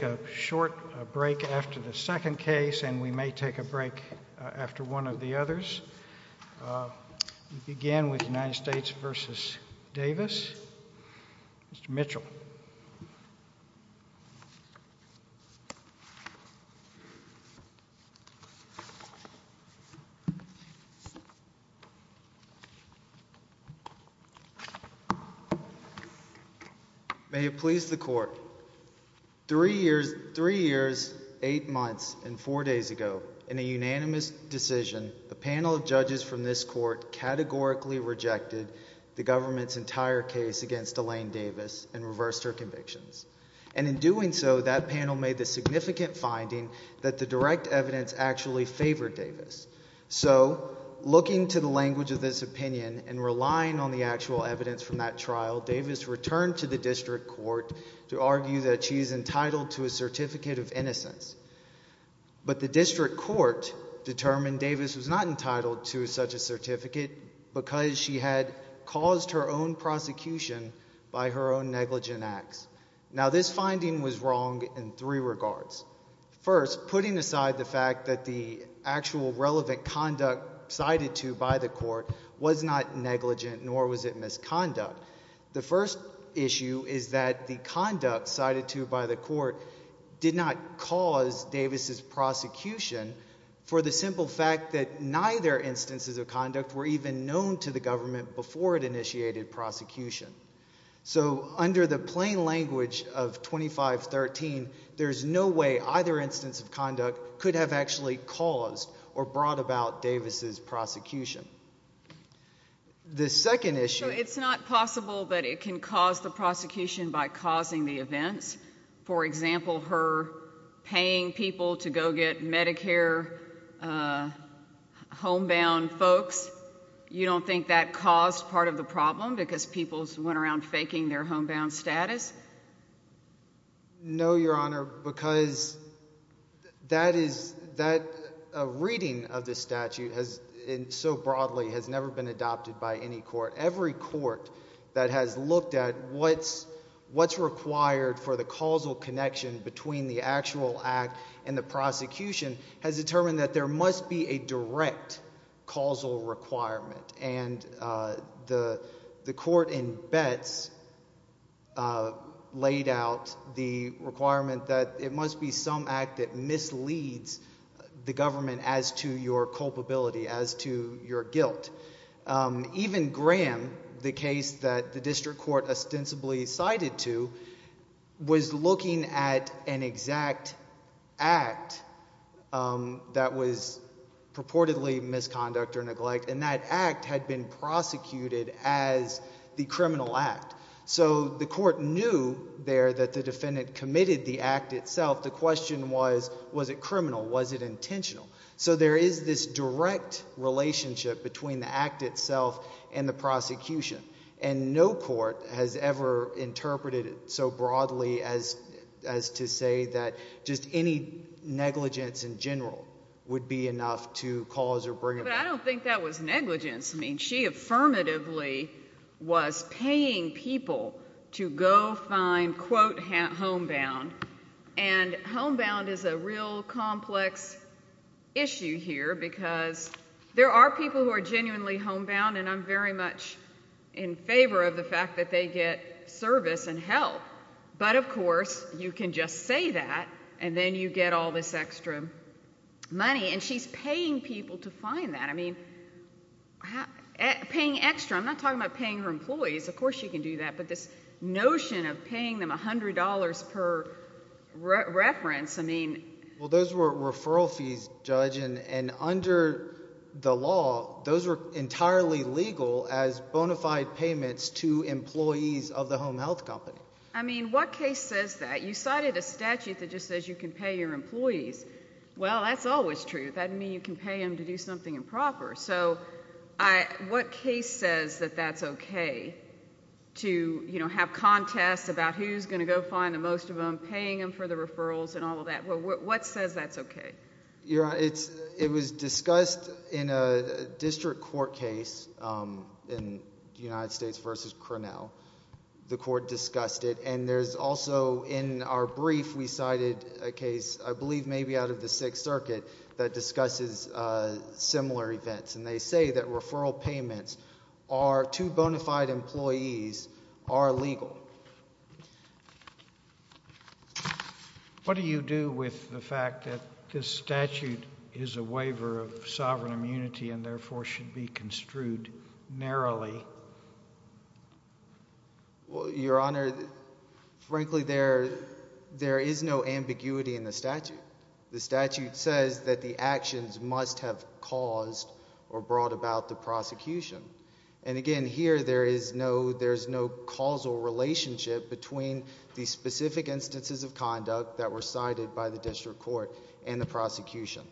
We'll take a short break after the second case and we may take a break after one of the others. We'll begin with United States v. Davis, Mr. Mitchell. May it please the Court, three years, eight months and four days ago, in a unanimous decision, a panel of judges from this Court categorically rejected the government's entire case against Elaine Davis and reversed her convictions. And in doing so, that panel made the significant finding that the direct evidence actually favored Davis. So looking to the language of this opinion and relying on the actual evidence from that trial, Davis returned to the district court to argue that she is entitled to a certificate of innocence. But the district court determined Davis was not entitled to such a certificate because she had caused her own prosecution by her own negligent acts. Now this finding was wrong in three regards. First, putting aside the fact that the actual relevant conduct cited to by the court was not negligent, nor was it misconduct. The first issue is that the conduct cited to by the court did not cause Davis's prosecution for the simple fact that neither instances of conduct were even known to the government before it initiated prosecution. So under the plain language of 2513, there's no way either instance of conduct could have actually caused or brought about Davis's prosecution. The second issue- So it's not possible that it can cause the prosecution by causing the events. For example, her paying people to go get Medicare homebound folks. You don't think that caused part of the problem because people went around faking their homebound status? No, Your Honor, because that is- a reading of the statute so broadly has never been adopted by any court. Every court that has looked at what's required for the causal connection between the actual act and the prosecution has determined that there must be a direct causal requirement. And the court in Betts laid out the requirement that it must be some act that misleads the government as to your culpability, as to your guilt. Even Graham, the case that the district court ostensibly cited to, was looking at an exact act that was purportedly misconduct or neglect, and that act had been prosecuted as the criminal act. So the court knew there that the defendant committed the act itself. The question was, was it criminal? Was it intentional? So there is this direct relationship between the act itself and the prosecution, and no court has ever interpreted it so broadly as to say that just any negligence in general would be enough to cause or bring about- But I don't think that was negligence. I mean, she affirmatively was paying people to go find, quote, homebound. And homebound is a real complex issue here, because there are people who are genuinely homebound, and I'm very much in favor of the fact that they get service and help. But of course, you can just say that, and then you get all this extra money. And she's paying people to find that. I mean, paying extra, I'm not talking about paying her employees, of course she can do that, but this notion of paying them $100 per reference, I mean- Well, those were referral fees, Judge, and under the law, those were entirely legal as bona fide payments to employees of the home health company. I mean, what case says that? You cited a statute that just says you can pay your employees. Well, that's always true. That doesn't mean you can pay them to do something improper. So what case says that that's okay, to have contests about who's going to go find the most of them, paying them for the referrals and all of that? What says that's okay? It was discussed in a district court case in the United States versus Cornell. The court discussed it, and there's also, in our brief, we cited a case, I believe maybe out of the Sixth Circuit, that discusses similar events, and they say that referral payments are, to bona fide employees, are legal. What do you do with the fact that this statute is a waiver of sovereign immunity and therefore should be construed narrowly? Well, Your Honor, frankly, there is no ambiguity in the statute. The statute says that the actions must have caused or brought about the prosecution. And again, here, there is no causal relationship between the specific instances of conduct that were cited by the district court and the prosecution.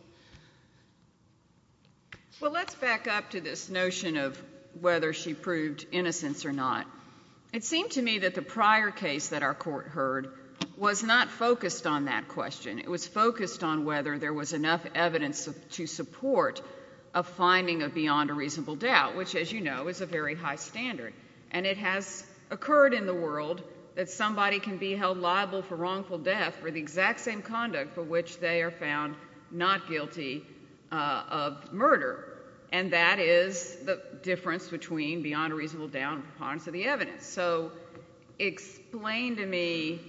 Well, let's back up to this notion of whether she proved innocence or not. It seemed to me that the prior case that our court heard was not focused on that question. It was focused on whether there was enough evidence to support a finding of beyond a reasonable doubt, which, as you know, is a very high standard. And it has occurred in the world that somebody can be held liable for wrongful death for the exact same conduct for which they are found not guilty of murder. And that is the difference between beyond a reasonable doubt and the evidence. So explain to me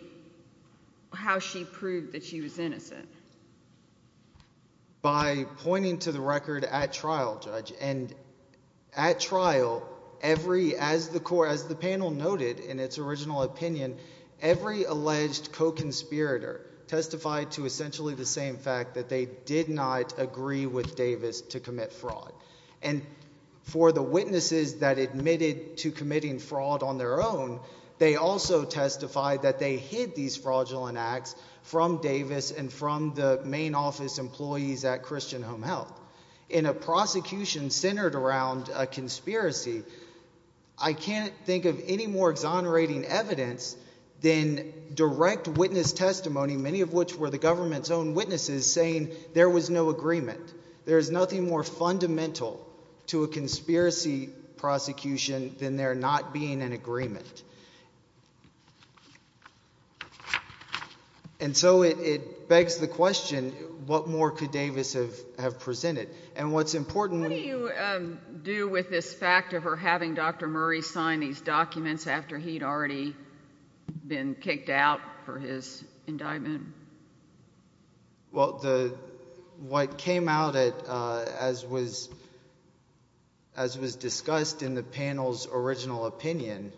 how she proved that she was innocent. By pointing to the record at trial, Judge, and at trial, every, as the panel noted in its original opinion, every alleged co-conspirator testified to essentially the same fact that they did not agree with Davis to commit fraud. And for the witnesses that admitted to committing fraud on their own, they also testified that they hid these fraudulent acts from Davis and from the main office employees at Christian Home Health. In a prosecution centered around a conspiracy, I can't think of any more exonerating evidence than direct witness testimony, many of which were the government's own witnesses, saying there was no agreement. There is nothing more fundamental to a conspiracy prosecution than there not being an agreement. And so it begs the question, what more could Davis have presented? And what's important— What do you do with this fact of her having Dr. Murray sign these documents after he'd already been kicked out for his indictment? Well, what came out, as was discussed in the panel's original opinion,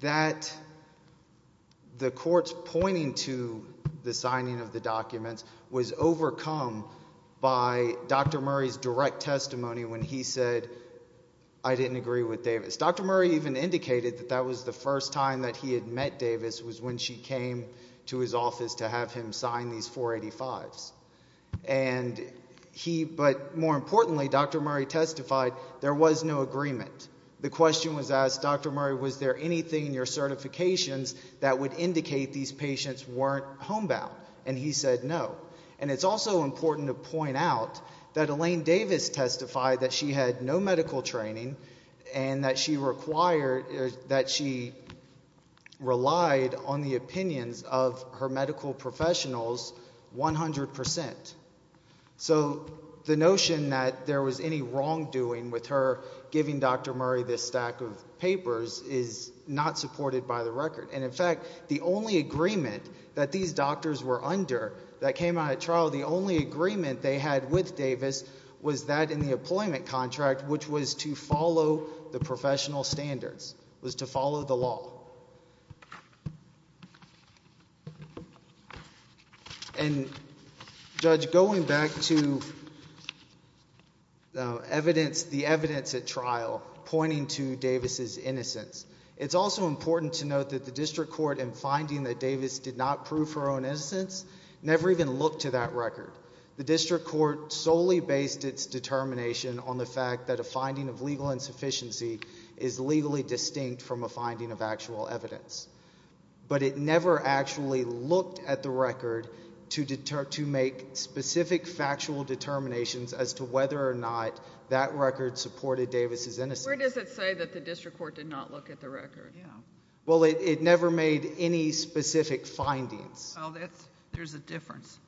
that the court's pointing to the signing of the documents was overcome by Dr. Murray's direct testimony when he said, I didn't agree with Davis. Dr. Murray even indicated that that was the first time that he had met Davis was when she came to his office to have him sign these 485s. But more importantly, Dr. Murray testified there was no agreement. The question was asked, Dr. Murray, was there anything in your certifications that would indicate these patients weren't homebound? And he said no. And it's also important to point out that Elaine Davis testified that she had no medical training and that she relied on the opinions of her medical professionals 100%. So the notion that there was any wrongdoing with her giving Dr. Murray this stack of papers is not supported by the record. And in fact, the only agreement that these doctors were under that came out at trial, the only agreement they had with Davis was that in the employment contract, which was to follow the professional standards, was to follow the law. And Judge, going back to the evidence at trial pointing to Davis's innocence, it's also important to note that the district court in finding that Davis did not prove her own innocence never even looked to that record. The district court solely based its determination on the fact that a finding of legal insufficiency is legally distinct from a finding of actual evidence. But it never actually looked at the record to make specific factual determinations as to whether or not that record supported Davis's innocence. Where does it say that the district court did not look at the record? Well, it never made any specific findings. Oh, there's a difference.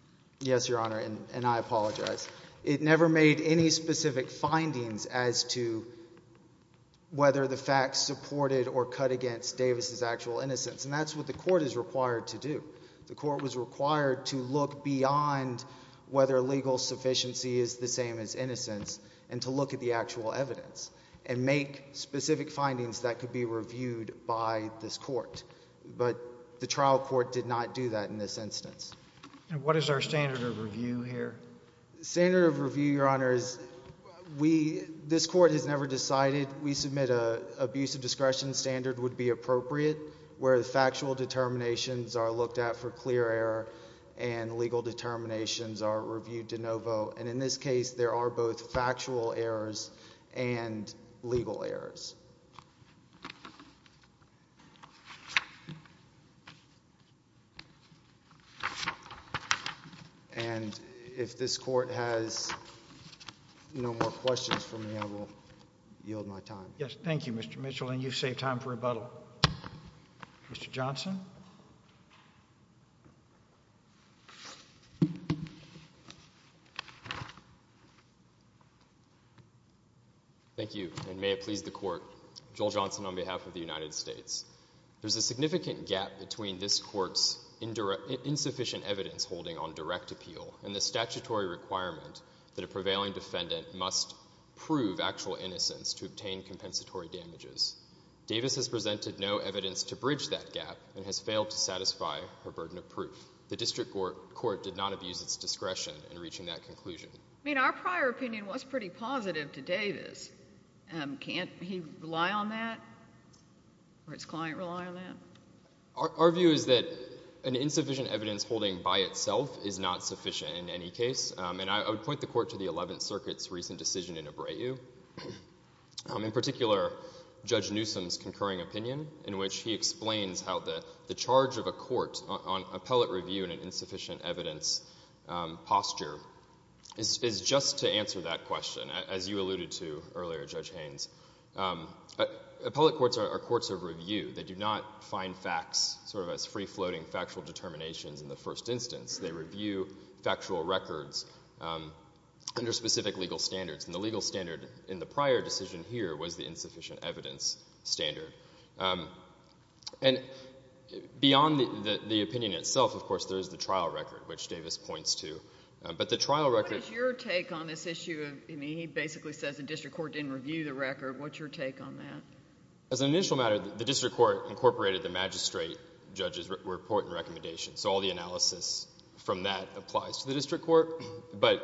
Yes, Your Honor, and I apologize. It never made any specific findings as to whether the facts supported or cut against Davis's actual innocence, and that's what the court is required to do. The court was required to look beyond whether legal sufficiency is the same as innocence and to look at the actual evidence and make specific findings that could be reviewed by this court. But the trial court did not do that in this instance. What is our standard of review here? Standard of review, Your Honors, we, this court has never decided. We submit an abuse of discretion standard would be appropriate where the factual determinations are looked at for clear error and legal determinations are reviewed de novo, and in this case there are both factual errors and legal errors. And if this court has no more questions for me, I will yield my time. Yes. Thank you, Mr. Mitchell, and you've saved time for rebuttal, Mr. Johnson. Thank you, and may it please the Court. Joel Johnson on behalf of the United States. There's a significant gap between this court's insufficient evidence holding on direct appeal and the statutory requirement that a prevailing defendant must prove actual innocence to obtain compensatory damages. Davis has presented no evidence to bridge that gap and has failed to satisfy her burden of proof. The district court did not abuse its discretion in reaching that conclusion. I mean, our prior opinion was pretty positive to Davis. Can't he rely on that or its client rely on that? Our view is that an insufficient evidence holding by itself is not sufficient in any case, and I would point the Court to the Eleventh Circuit's recent decision in Abreu. In particular, Judge Newsom's concurring opinion, in which he explains how the charge of a court on appellate review in an insufficient evidence posture is just to answer that question, as you alluded to earlier, Judge Haynes. Appellate courts are courts of review. They do not find facts sort of as free-floating factual determinations in the first instance. They review factual records under specific legal standards. And the legal standard in the prior decision here was the insufficient evidence standard. And beyond the opinion itself, of course, there is the trial record, which Davis points to. But the trial record— What is your take on this issue? I mean, he basically says the district court didn't review the record. What's your take on that? As an initial matter, the district court incorporated the magistrate judge's report and recommendation, so all the analysis from that applies to the district court. But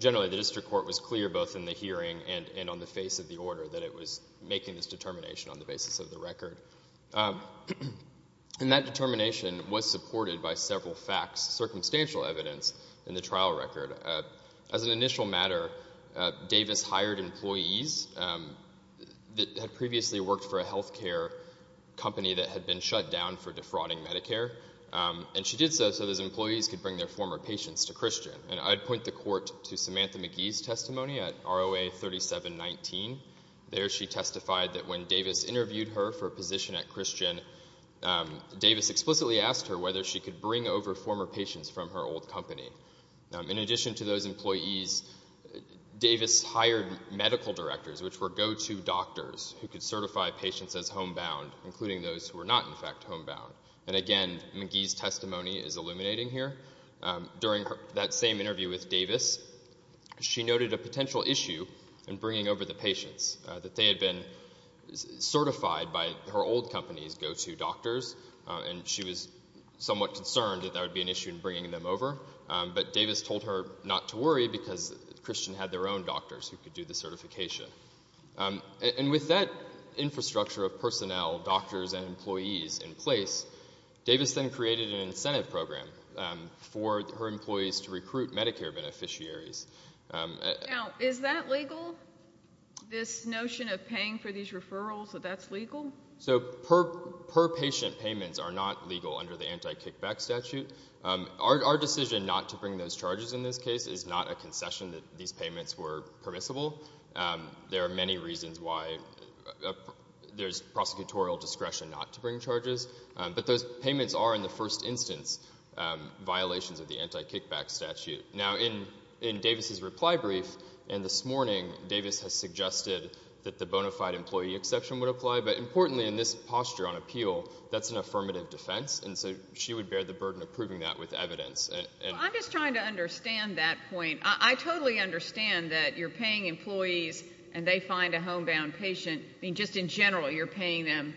generally, the district court was clear both in the hearing and on the face of the order that it was making this determination on the basis of the record. And that determination was supported by several facts, circumstantial evidence in the trial record. As an initial matter, Davis hired employees that had previously worked for a health care company that had been shut down for defrauding Medicare. And she did so so those employees could bring their former patients to Christian. And I'd point the court to Samantha McGee's testimony at ROA 3719. There she testified that when Davis interviewed her for a position at Christian, Davis explicitly asked her whether she could bring over former patients from her old company. In addition to those employees, Davis hired medical directors, which were go-to doctors who could certify patients as homebound, including those who were not, in fact, homebound. And again, McGee's testimony is illuminating here. During that same interview with Davis, she noted a potential issue in bringing over the patients, that they had been certified by her old company's go-to doctors. And she was somewhat concerned that that would be an issue in bringing them over. But Davis told her not to worry because Christian had their own doctors who could do the certification. And with that infrastructure of personnel, doctors, and employees in place, Davis then asked for her employees to recruit Medicare beneficiaries. Now, is that legal? This notion of paying for these referrals, that that's legal? So per-patient payments are not legal under the anti-kickback statute. Our decision not to bring those charges in this case is not a concession that these payments were permissible. There are many reasons why there's prosecutorial discretion not to bring charges. But those payments are, in the first instance, violations of the anti-kickback statute. Now, in Davis's reply brief, and this morning, Davis has suggested that the bona fide employee exception would apply. But importantly, in this posture on appeal, that's an affirmative defense. And so she would bear the burden of proving that with evidence. Well, I'm just trying to understand that point. I totally understand that you're paying employees and they find a homebound patient. I mean, just in general, you're paying them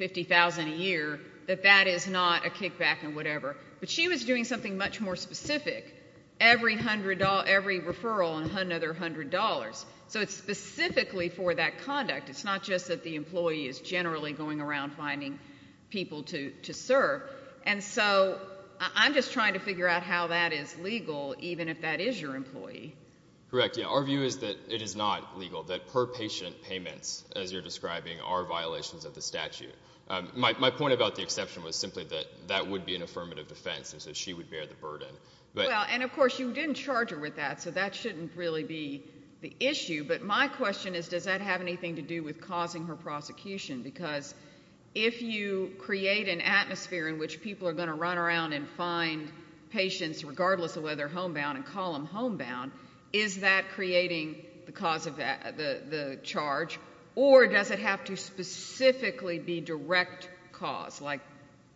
$50,000 a year, that that is not a kickback and whatever. But she was doing something much more specific. Every referral, another $100. So it's specifically for that conduct. It's not just that the employee is generally going around finding people to serve. And so I'm just trying to figure out how that is legal, even if that is your employee. Correct, yeah. Our view is that it is not legal, that per-patient payments, as you're describing, are violations of the statute. My point about the exception was simply that that would be an affirmative defense, is that she would bear the burden. Well, and of course, you didn't charge her with that, so that shouldn't really be the issue. But my question is, does that have anything to do with causing her prosecution? Because if you create an atmosphere in which people are going to run around and find patients, regardless of whether they're homebound and call them homebound, is that creating the cause of the charge? Or does it have to specifically be direct cause, like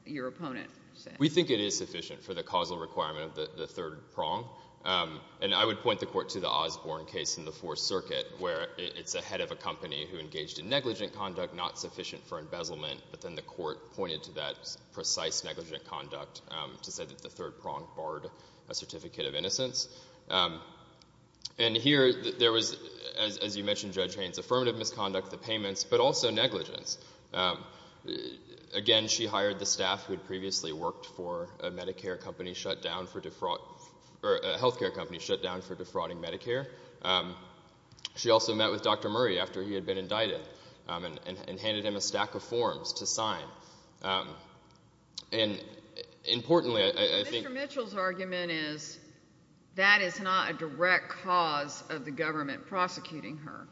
your opponent said? We think it is sufficient for the causal requirement of the third prong. And I would point the Court to the Osborne case in the Fourth Circuit, where it's a head of a company who engaged in negligent conduct, not sufficient for embezzlement. But then the Court pointed to that precise negligent conduct to say that the third prong barred a certificate of innocence. And here, there was, as you mentioned, Judge Haynes, affirmative misconduct, the payments, but also negligence. Again, she hired the staff who had previously worked for a Medicare company shut down for defraud—or a health care company shut down for defrauding Medicare. She also met with Dr. Murray after he had been indicted and handed him a stack of forms to sign. And importantly, I think— The official's argument is that is not a direct cause of the government prosecuting her.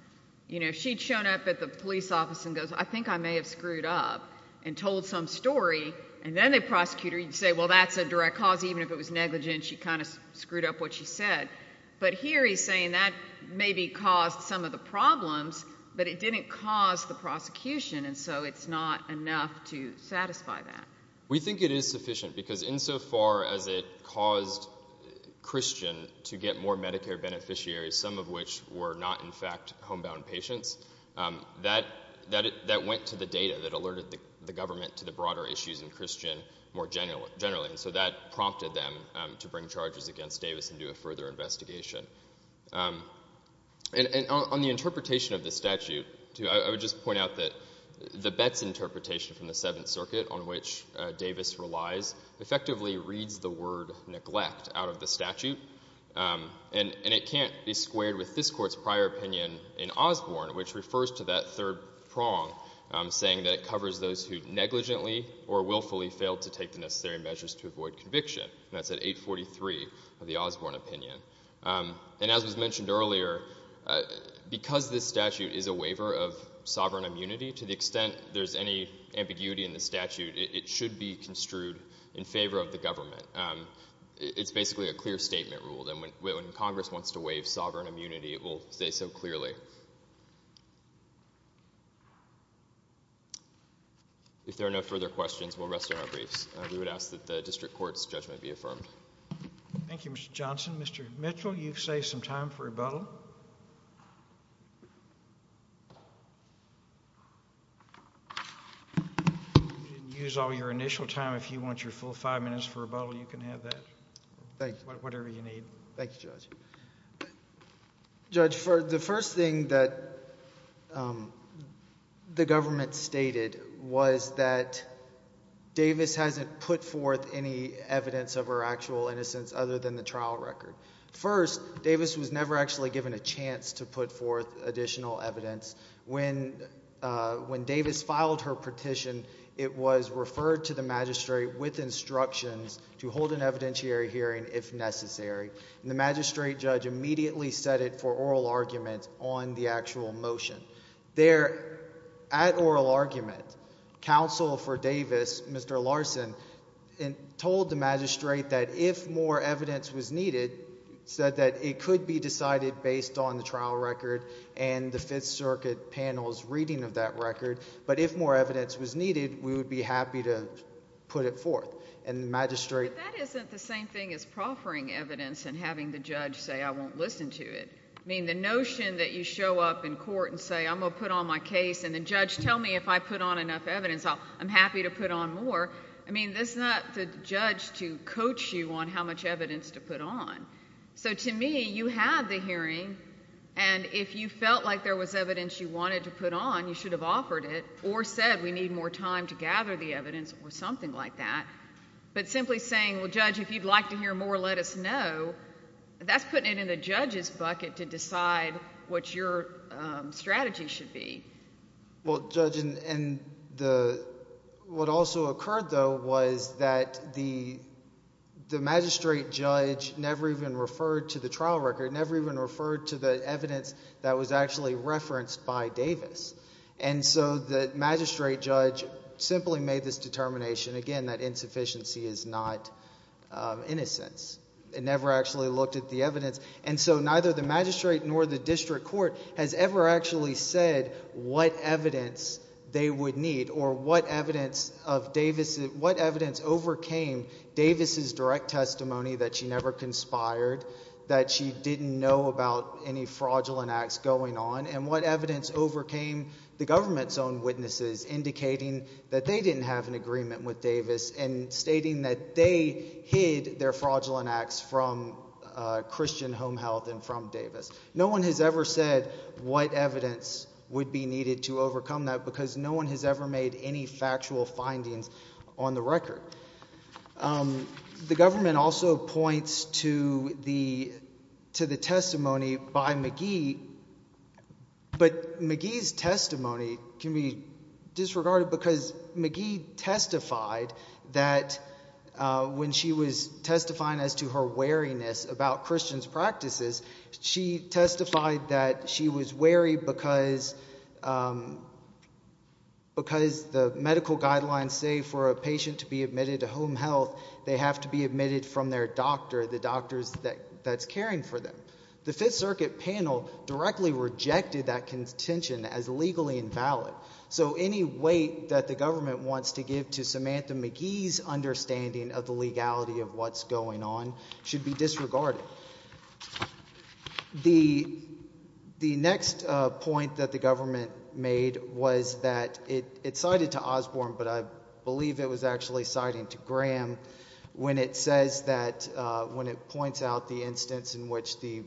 You know, she'd shown up at the police office and goes, I think I may have screwed up and told some story. And then the prosecutor would say, well, that's a direct cause, even if it was negligent. She kind of screwed up what she said. But here he's saying that maybe caused some of the problems, but it didn't cause the prosecution. And so it's not enough to satisfy that. We think it is sufficient because insofar as it caused Christian to get more Medicare beneficiaries, some of which were not, in fact, homebound patients, that went to the data that alerted the government to the broader issues in Christian more generally. So that prompted them to bring charges against Davis and do a further investigation. And on the interpretation of the statute, too, I would just point out that the Betts interpretation from the Seventh Circuit, on which Davis relies, effectively reads the word neglect out of the statute. And it can't be squared with this Court's prior opinion in Osborne, which refers to that third prong, saying that it covers those who negligently or willfully failed to take the necessary measures to avoid conviction, and that's at 843 of the Osborne opinion. And as was mentioned earlier, because this statute is a waiver of sovereign immunity to the extent there's any ambiguity in the statute, it should be construed in favor of the government. It's basically a clear statement rule. And when Congress wants to waive sovereign immunity, it will say so clearly. If there are no further questions, we'll rest on our briefs. We would ask that the District Court's judgment be affirmed. Thank you, Mr. Johnson. Mr. Mitchell, you've saved some time for rebuttal. You didn't use all your initial time. If you want your full five minutes for rebuttal, you can have that, whatever you need. Thank you, Judge. Judge, the first thing that the government stated was that Davis hasn't put forth any evidence of her actual innocence other than the trial record. First, Davis was never actually given a chance to put forth additional evidence. When Davis filed her petition, it was referred to the magistrate with instructions to hold an evidentiary hearing if necessary. The magistrate judge immediately set it for oral argument on the actual motion. At oral argument, counsel for Davis, Mr. Larson, told the magistrate that if more evidence was needed, said that it could be decided based on the trial record and the Fifth Circuit panel's reading of that record, but if more evidence was needed, we would be happy to put it forth. And the magistrate... But that isn't the same thing as proffering evidence and having the judge say, I won't listen to it. I mean, the notion that you show up in court and say, I'm going to put on my case, and the judge tell me if I put on enough evidence, I'm happy to put on more, I mean, that's not the judge to coach you on how much evidence to put on. So to me, you had the hearing, and if you felt like there was evidence you wanted to put on, you should have offered it, or said, we need more time to gather the evidence, or something like that, but simply saying, well, judge, if you'd like to hear more, let us know, that's putting it in the judge's bucket to decide what your strategy should be. Well, judge, and the... what also occurred, though, was that the magistrate judge never even referred to the trial record, never even referred to the evidence that was actually referenced by Davis. And so the magistrate judge simply made this determination, again, that insufficiency is not innocence, and never actually looked at the evidence. And so neither the magistrate nor the district court has ever actually said what evidence they would need, or what evidence of Davis... what evidence overcame Davis' direct testimony that she never conspired, that she didn't know about any fraudulent acts going on, and what evidence overcame the government's own witnesses indicating that they didn't have an agreement with Davis, and stating that they hid their fraudulent acts from Christian home health and from Davis. No one has ever said what evidence would be needed to overcome that, because no one has ever made any factual findings on the record. The government also points to the testimony by McGee, but McGee's testimony can be disregarded because McGee testified that when she was testifying as to her wariness about Christian's practices, she testified that she was wary because... because the medical guidelines say for a patient to be admitted to home health, they have to be admitted from their doctor, the doctor that's caring for them. The Fifth Circuit panel directly rejected that contention as legally invalid. So any weight that the government wants to give to Samantha McGee's understanding of the legality of what's going on should be disregarded. The next point that the government made was that it cited to Osborne, but I believe it was actually citing to Graham, when it says that... when it points out the instance in which the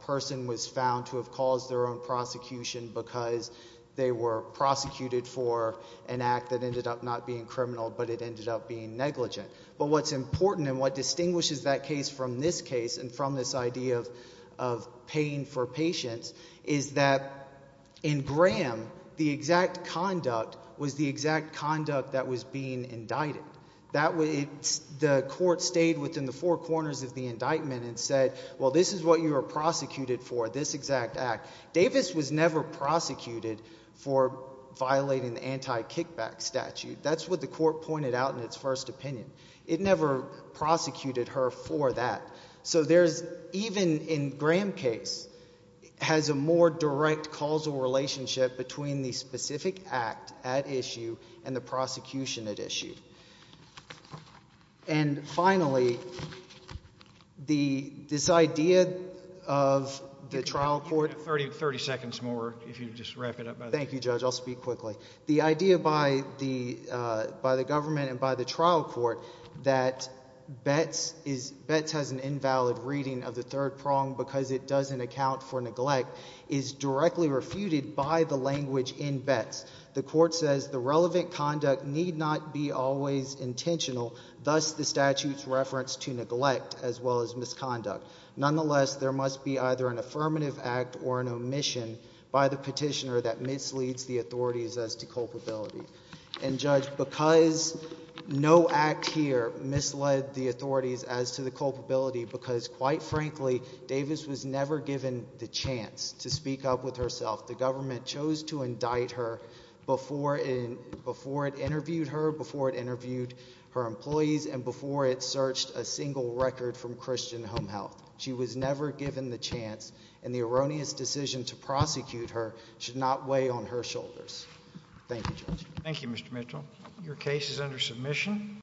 person was found to have caused their own prosecution because they were prosecuted for an act that ended up not being criminal, but it ended up being negligent. But what's important and what distinguishes that case from this case and from this idea of paying for patients is that in Graham, the exact conduct was the exact conduct that was being indicted. The court stayed within the four corners of the indictment and said, well, this is what you were prosecuted for, this exact act. Davis was never prosecuted for violating the anti-kickback statute. That's what the court pointed out in its first opinion. It never prosecuted her for that. So there's... even in Graham's case, has a more direct causal relationship between the specific act at issue and the prosecution at issue. And finally, this idea of the trial court... You have 30 seconds more, if you'd just wrap it up. Thank you, Judge. I'll speak quickly. The idea by the government and by the trial court that Betts has an invalid reading of the third prong because it doesn't account for neglect is directly refuted by the language in Betts. The court says the relevant conduct need not be always intentional, thus the statute's reference to neglect as well as misconduct. Nonetheless, there must be either an affirmative act or an omission by the petitioner that misleads the authorities as to culpability. And Judge, because no act here misled the authorities as to the culpability, because quite frankly, Davis was never given the chance to speak up with herself, the government chose to indict her before it interviewed her, before it interviewed her employees, and before it searched a single record from Christian Home Health. She was never given the chance, and the erroneous decision to prosecute her should not weigh on her shoulders. Thank you, Judge. Thank you, Mr. Mitchell. Your case is under submission.